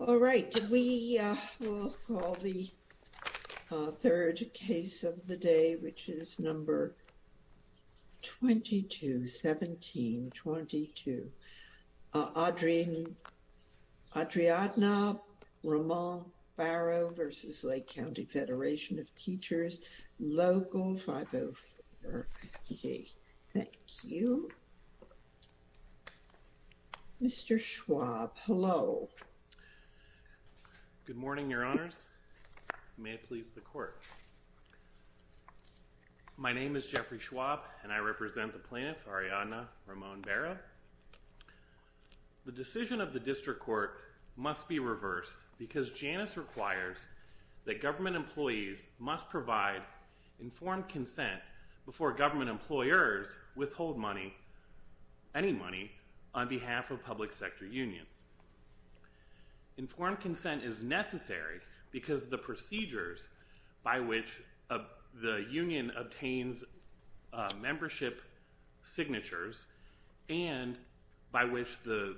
All right, we will call the third case of the day which is number 22, 17, 22. Adriadna Roman Baro v. Lake County Federation of Teachers, Local 504. Okay, thank you. Mr. Schwab, hello. Good morning, your honors. May it please the court. My name is Jeffrey Schwab and I represent the plaintiff, Adriadna Ramon Baro. The decision of the district court must be reversed because Janus requires that government employers withhold money, any money, on behalf of public sector unions. Informed consent is necessary because the procedures by which the union obtains membership signatures and by which the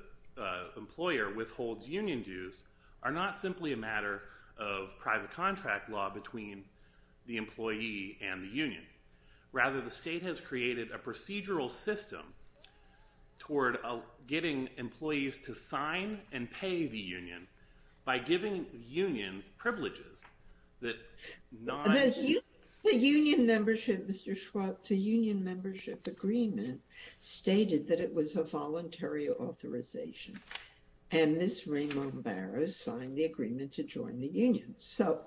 employer withholds union dues are not simply a matter of private contract law between the employee and the union. Rather, the state has created a procedural system toward getting employees to sign and pay the union by giving unions privileges. The union membership, Mr. Schwab, the union membership agreement stated that it was a So,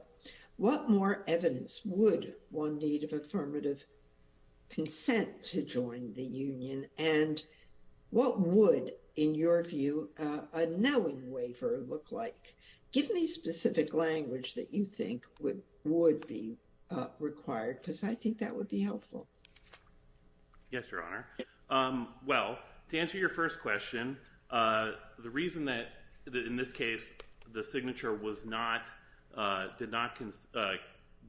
what more evidence would one need of affirmative consent to join the union and what would, in your view, a knowing waiver look like? Give me specific language that you think would be required because I think that would be helpful. Yes, your honor. Well, to answer your first question, the reason that in this case the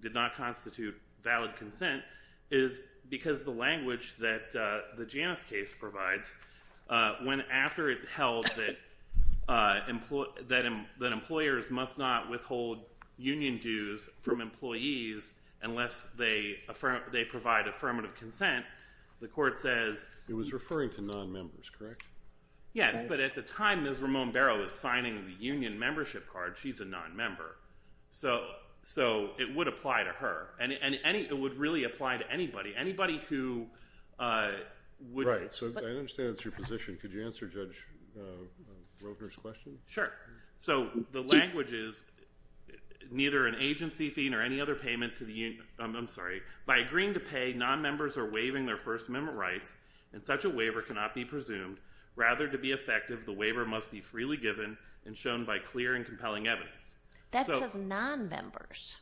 did not constitute valid consent is because the language that the Janus case provides, when after it held that employers must not withhold union dues from employees unless they provide affirmative consent, the court says It was referring to non-members, correct? Yes, but at the time Ms. Ramon Baro was signing the union membership card, she's a non-member. So, it would apply to her and it would really apply to anybody, anybody who Right, so I understand that's your position. Could you answer Judge Roebner's question? Sure. So, the language is, neither an agency fee nor any other payment to the union, I'm sorry, by agreeing to pay, non-members are waiving their First Amendment rights and such a waiver cannot be presumed. Rather, to be effective, the waiver must be freely given and shown by clear and non-members.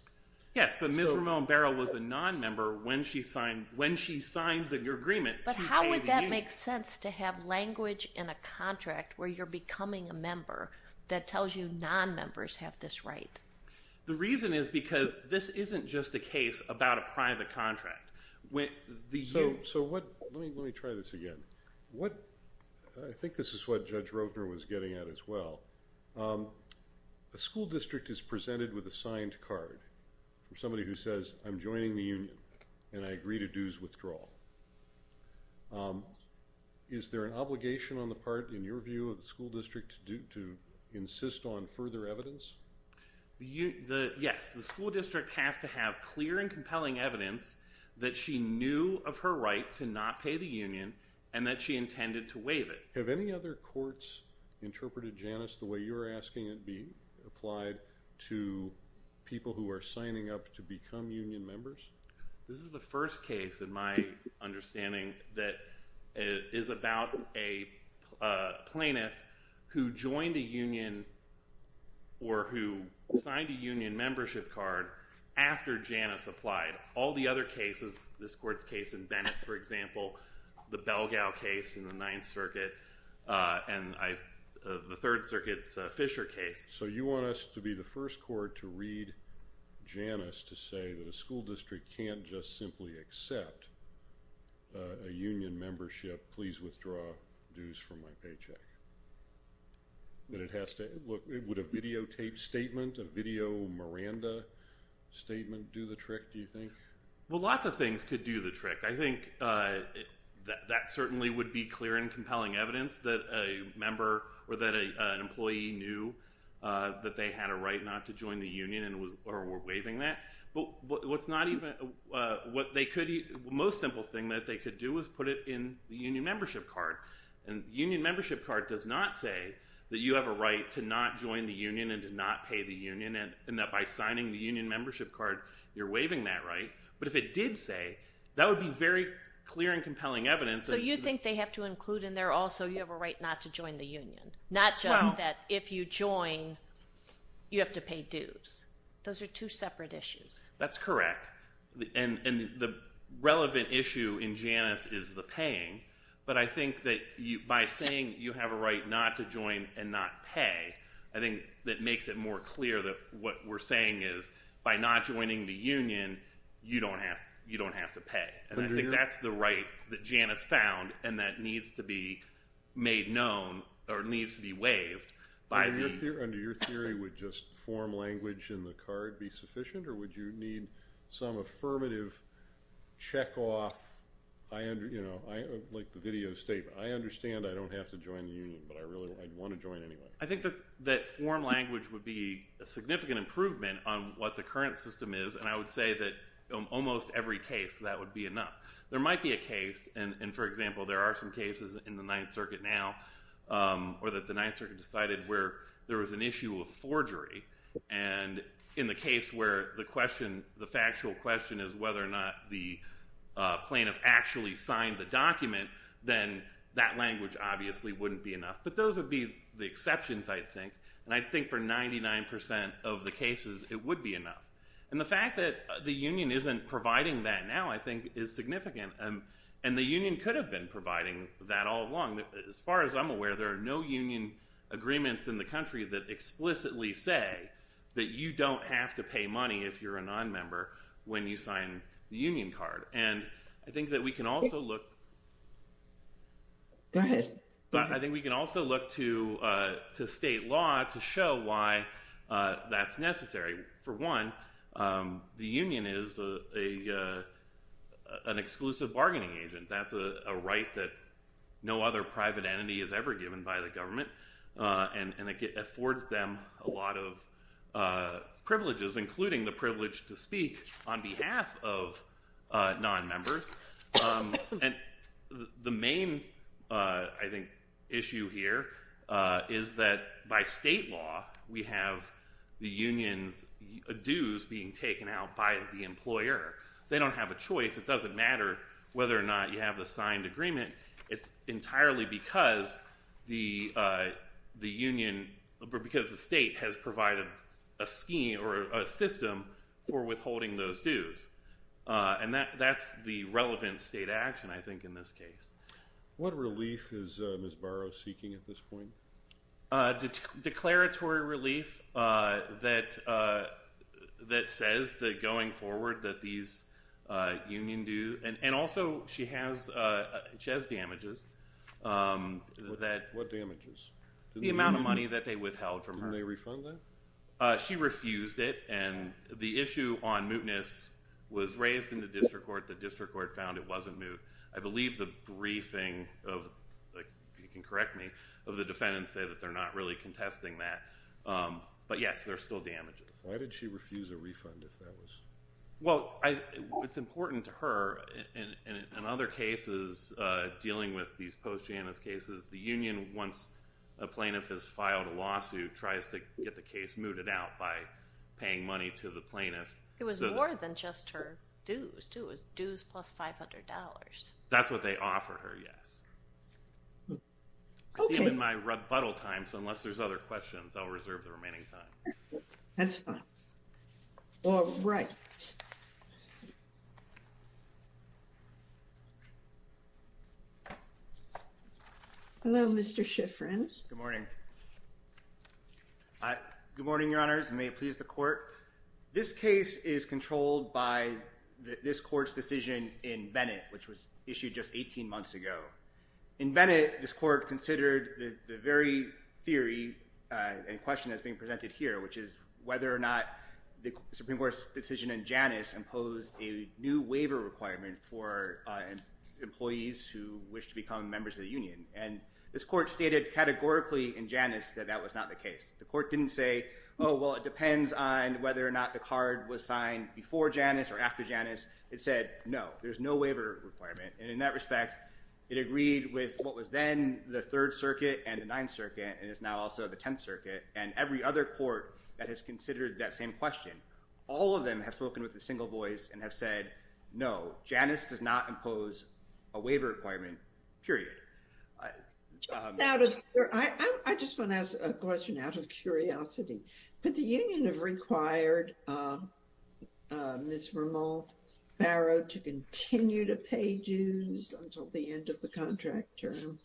Yes, but Ms. Ramon Baro was a non-member when she signed the agreement. But how would that make sense to have language in a contract where you're becoming a member that tells you non-members have this right? The reason is because this isn't just a case about a private contract. So, let me try this again. I think this is what Judge Roebner was getting at as well. A school district is presented with a signed card from somebody who says, I'm joining the union and I agree to dues withdrawal. Is there an obligation on the part, in your view, of the school district to insist on further evidence? Yes, the school district has to have clear and compelling evidence that she knew of her right to not pay the union and that she intended to waive it. Have any other courts interpreted Janice the way you're asking it be applied to people who are signing up to become union members? This is the first case, in my understanding, that is about a plaintiff who joined a union or who signed a union membership card after Janice applied. All the other cases, this court's case in Bennett, for example, the Belgao case in the Ninth Circuit, and the Third Circuit's Fisher case. So, you want us to be the first court to read Janice to say that a school district can't just simply accept a union membership, please withdraw dues from my paycheck. But it has to, look, would a videotaped statement, a video Miranda statement do the trick, do you think? Well, lots of things could do the trick. I think that certainly would be clear and compelling evidence that a member or that an employee knew that they had a right not to join the union or were waiving that. But what's not even, what they could, the most simple thing that they could do is put it in the union membership card. And the union membership card does not say that you have a right to not join the union and to not pay the union, and that by signing the union membership card, you're waiving that right. But if it did say, that would be very clear and compelling evidence. So you think they have to include in there also you have a right not to join the union, not just that if you join, you have to pay dues. Those are two separate issues. That's correct. And the relevant issue in Janus is the paying. But I think that by saying you have a right not to join and not pay, I think that makes it more clear that what we're saying is by not joining the union, you don't have to pay. And I think that's the right that Janus found and that needs to be made known or needs to be waived. Under your theory, would just form language in the card be sufficient, or would you need some affirmative check off, like the video statement? I understand I don't have to join the union, but I really want to join anyway. I think that form language would be a significant improvement on what the current system is. And I would say that in almost every case, that would be enough. There might be a case, and for example, there are some cases in the Ninth Circuit now, or that the Ninth Circuit decided where there was an issue of forgery. And in the case where the question, the factual question is whether or not the plaintiff actually signed the document, then that language obviously wouldn't be enough. But those would be the exceptions, I think. And I think for 99 percent of the cases, it would be enough. And the fact that the union isn't providing that now, I think, is significant. And the union could have been providing that all along. As far as I'm aware, there are no union agreements in the country that explicitly say that you don't have to pay money if you're a non-member when you sign the union card. And I think that we can also look... Go ahead. But I think we can also look to state law to show why that's necessary. For one, the union is an exclusive bargaining agent. That's a right that no other private entity is ever given by the government. And it affords them a lot of privileges, including the privilege to speak on behalf of non-members. And the main, I think, issue here is that by state law, we have the union's dues being taken out by the employer. They don't have a choice. It doesn't matter whether or not you have a signed agreement. It's entirely because the state has provided a scheme or a system for withholding those dues. And that's the relevant state action, I think, in this case. What relief is Ms. Barrow seeking at this point? A declaratory relief that says that going forward that these union dues... And also, she has damages that... What damages? The amount of money that they withheld from her. Didn't they refund that? She refused it. And the issue on mootness was raised in the district court. The district court found it wasn't moot. I believe the briefing, if you can correct me, of the defendants say that they're not really contesting that. But yes, there's still damages. Why did she refuse a refund if that was... Well, it's important to her. In other cases, dealing with these post-Janus cases, the union, once a plaintiff has filed a lawsuit, tries to get the case mooted out by paying money to the plaintiff. It was more than just her dues, too. It was dues plus $500. That's what they offer her, yes. Okay. I see them in my rebuttal time, so unless there's other questions, I'll reserve the remaining time. That's fine. Hello, Mr. Shiffrin. Good morning. Good morning, Your Honors, and may it please the court. This case is controlled by this court's decision in Bennett, which was issued just 18 months ago. In Bennett, this court considered the very theory and question that's being presented here, which is whether or not the Supreme Court's decision in Janus imposed a new waiver requirement for employees who wish to become members of the union. And this court stated categorically in Janus that that was not the case. The court didn't say, oh, well, it depends on whether or not the card was signed before Janus or after Janus. It said, no, there's no waiver requirement. And in that respect, it agreed with what was then the Third Circuit and the Ninth Circuit, and is now also the Tenth Circuit, and every other court that has considered that same question. All of them have spoken with a single voice and have said, no, Janus does not impose a waiver requirement, period. Just out of, I just want to ask a question out of curiosity, but the union have required Ms. Vermont-Barrow to continue to pay dues until the end of the contract term?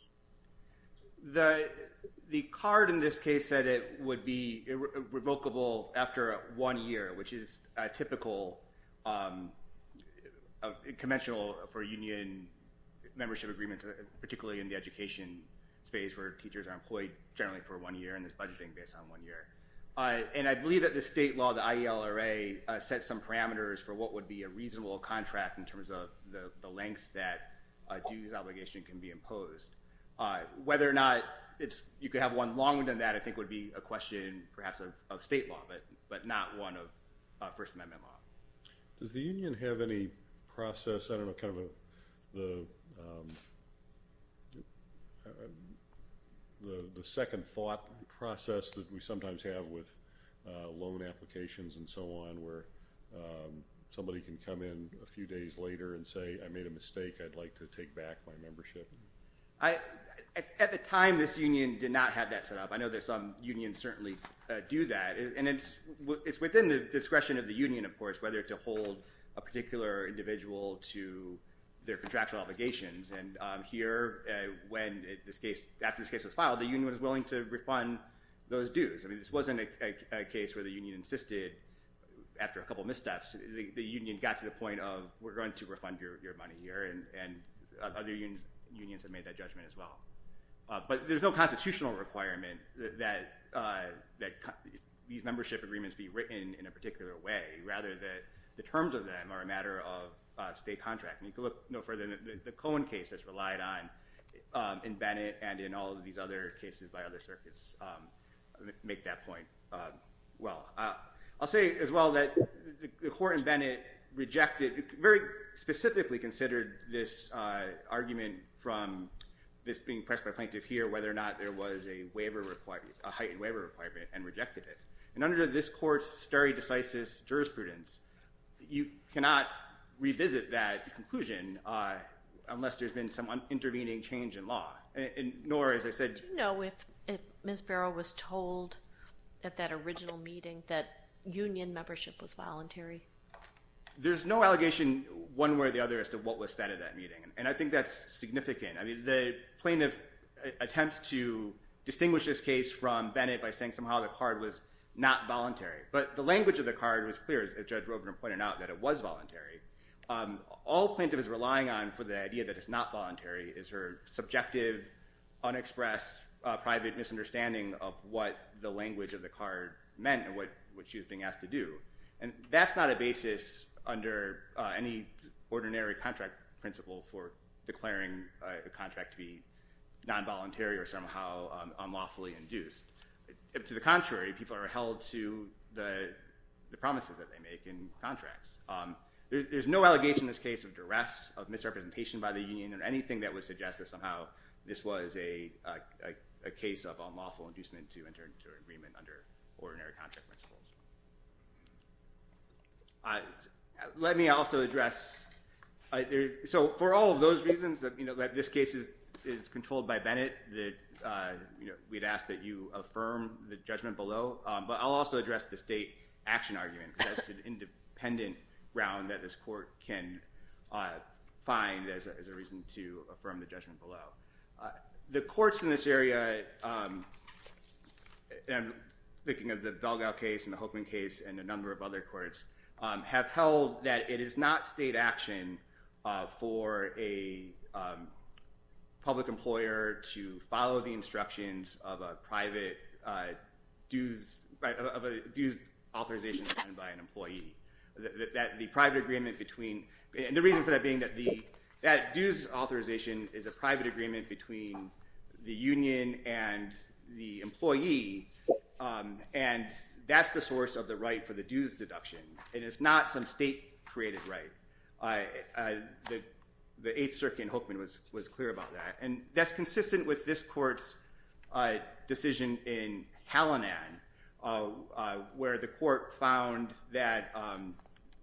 The card in this case said it would be revocable after one year, which is a typical of a conventional for union membership agreements, particularly in the education space where teachers are employed generally for one year, and there's budgeting based on one year. And I believe that the state law, the IELRA, set some parameters for what would be a reasonable contract in terms of the length that a dues obligation can be imposed. Whether or not it's, you could have one longer than that, I think would be a question perhaps of state law, but not one of First Amendment law. Does the union have any process, I don't know, kind of the second thought process that we sometimes have with loan applications and so on where somebody can come in a few days later and say, I made a mistake, I'd like to take back my membership? At the time, this union did not have that set up. I know there's some unions certainly do that, and it's within the discretion of the union, of course, whether to hold a particular individual to their contractual obligations. And here, after this case was filed, the union was willing to refund those dues. I mean, this wasn't a case where the union insisted after a couple missteps, the union got to the point of, we're going to refund your money here, and other unions have made that judgment as well. But there's no constitutional requirement that these membership agreements be written in a particular way, rather that the terms of them are a matter of state contract. And you can look no further than the Cohen case that's relied on in Bennett and in all of these other cases by other circuits make that point well. I'll say as well that the court in Bennett rejected, very specifically considered this argument from this being pressed by a plaintiff here, whether or not there was a waiver requirement, a heightened waiver requirement, and rejected it. And under this court's stare decisis jurisprudence, you cannot revisit that conclusion unless there's been some intervening change in law. And nor, as I said- Do you know if Ms. Barrow was told at that original meeting that union membership was voluntary? There's no allegation one way or the other as to what was said at that meeting. And I think that's significant. I mean, the plaintiff attempts to distinguish this case from Bennett by saying somehow the card was not voluntary. But the language of the card was clear, as Judge Robner pointed out, that it was voluntary. All plaintiff is relying on for the idea that it's not voluntary is her subjective, unexpressed, private misunderstanding of what the language of the card meant and what she was being asked to do. And that's not a basis under any ordinary contract principle for declaring a contract to be non-voluntary or somehow unlawfully induced. To the contrary, people are held to the promises that they make in contracts. There's no allegation in this case of duress, of misrepresentation by the union, or anything that would suggest that somehow this was a case of unlawful inducement to enter into an agreement under ordinary contract principles. So for all of those reasons that this case is controlled by Bennett, we'd ask that you affirm the judgment below. But I'll also address the state action argument. That's an independent round that this court can find as a reason to affirm the judgment below. The courts in this area, and I'm thinking of the Belgao case and the Hokeman case and a number of other courts, have held that it is not state action for a public employer to follow the instructions of a private dues authorization signed by an employee. That the private agreement between, and the reason for that being that that dues authorization is a private agreement between the union and the employee, and that's the source of the right for the dues deduction. It is not some state-created right. The 8th Circuit in Hokeman was clear about that. And that's consistent with this court's decision in Hallinan, where the court found that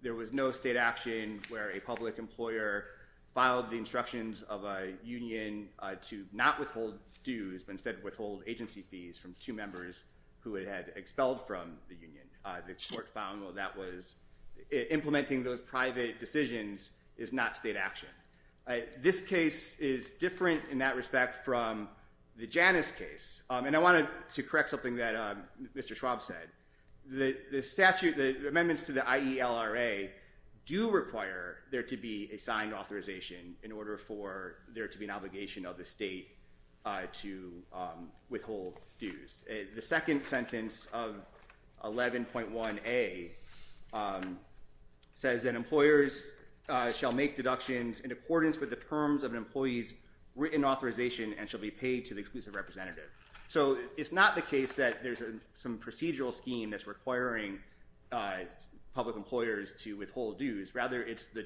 there was no state action where a public employer filed the instructions of a union to not withhold dues, but instead withhold agency fees from two members who it had expelled from the union. The court found that implementing those private decisions is not state action. This case is different in that respect from the Janus case. And I wanted to correct something that Mr. Schwab said. The statute, the amendments to the IELRA, do require there to be a signed authorization in order for there to be an obligation of the state to withhold dues. The second sentence of 11.1a says that employers shall make deductions in accordance with the terms of an employee's written authorization and shall be paid to the exclusive representative. So it's not the case that there's a some procedural scheme that's requiring public employers to withhold dues. Rather, it's the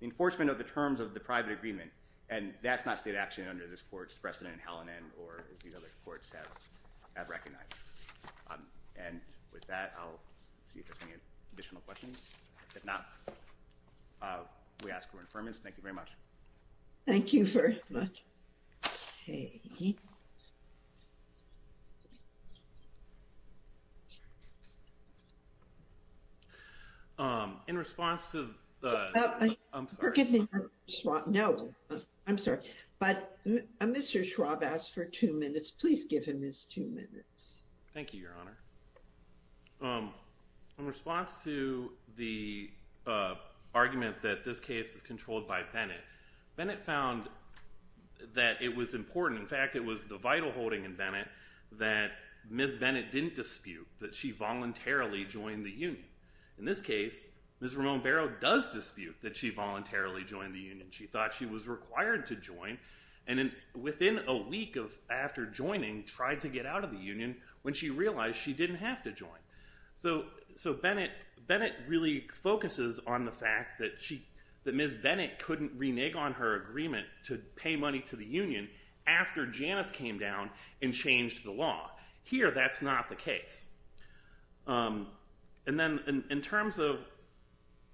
enforcement of the terms of the private agreement. And that's not state action under this court's precedent in Hallinan or as these other courts have recognized. And with that, I'll see if there's any additional questions. If not, we ask for an affirmance. Thank you very much. Thank you very much. Okay. Um, in response to the, I'm sorry, no, I'm sorry. But Mr. Schwab asked for two minutes. Please give him his two minutes. Thank you, Your Honor. Um, in response to the argument that this case is controlled by Bennett, Bennett found that it was important. In fact, it was the vital holding in Bennett that Ms. Bennett didn't dispute that she voluntarily joined the union. In this case, Ms. Ramon Barrow does dispute that she voluntarily joined the union. She thought she was required to join. And then within a week of, after joining, tried to get out of the union when she realized she didn't have to join. So, so Bennett, Bennett really focuses on the fact that she, that Ms. Bennett couldn't renege on her agreement to pay money to the union after Janus came down and changed the law. Here, that's not the case. Um, and then in terms of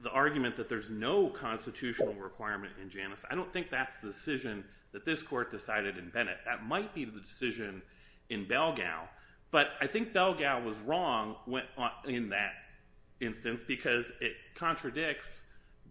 the argument that there's no constitutional requirement in Janus, I don't think that's the decision that this court decided in Bennett. That might be the decision in Belgao. But I think Belgao was wrong when, in that instance, because it contradicts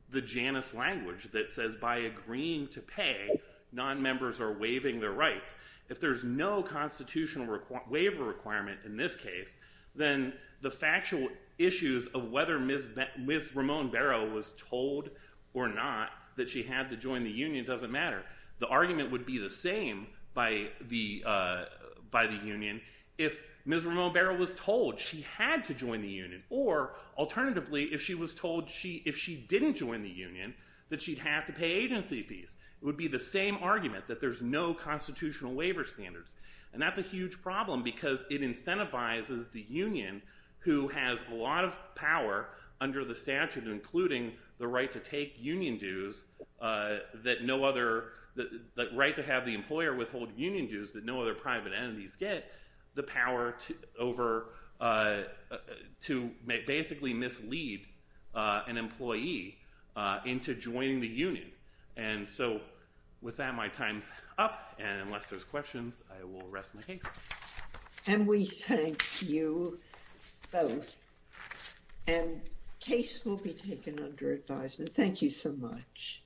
the Janus language that says by agreeing to pay, non-members are waiving their rights. If there's no constitutional waiver requirement in this case, then the factual issues of whether Ms. Ramon Barrow was told or not that she had to join the union doesn't matter. The argument would be the same by the, uh, by the union if Ms. Ramon Barrow was told she had to join the union. Or, alternatively, if she was told she, if she didn't join the union, that she'd have to pay agency fees. It would be the same argument that there's no constitutional waiver standards. And that's a huge problem because it incentivizes the union who has a lot power under the statute, including the right to take union dues, uh, that no other, the right to have the employer withhold union dues that no other private entities get, the power to, over, uh, to basically mislead, uh, an employee, uh, into joining the union. And so, with that, my time's up. And unless there's questions, I will rest my case. And we thank you both. And case will be taken under advisement. Thank you so much.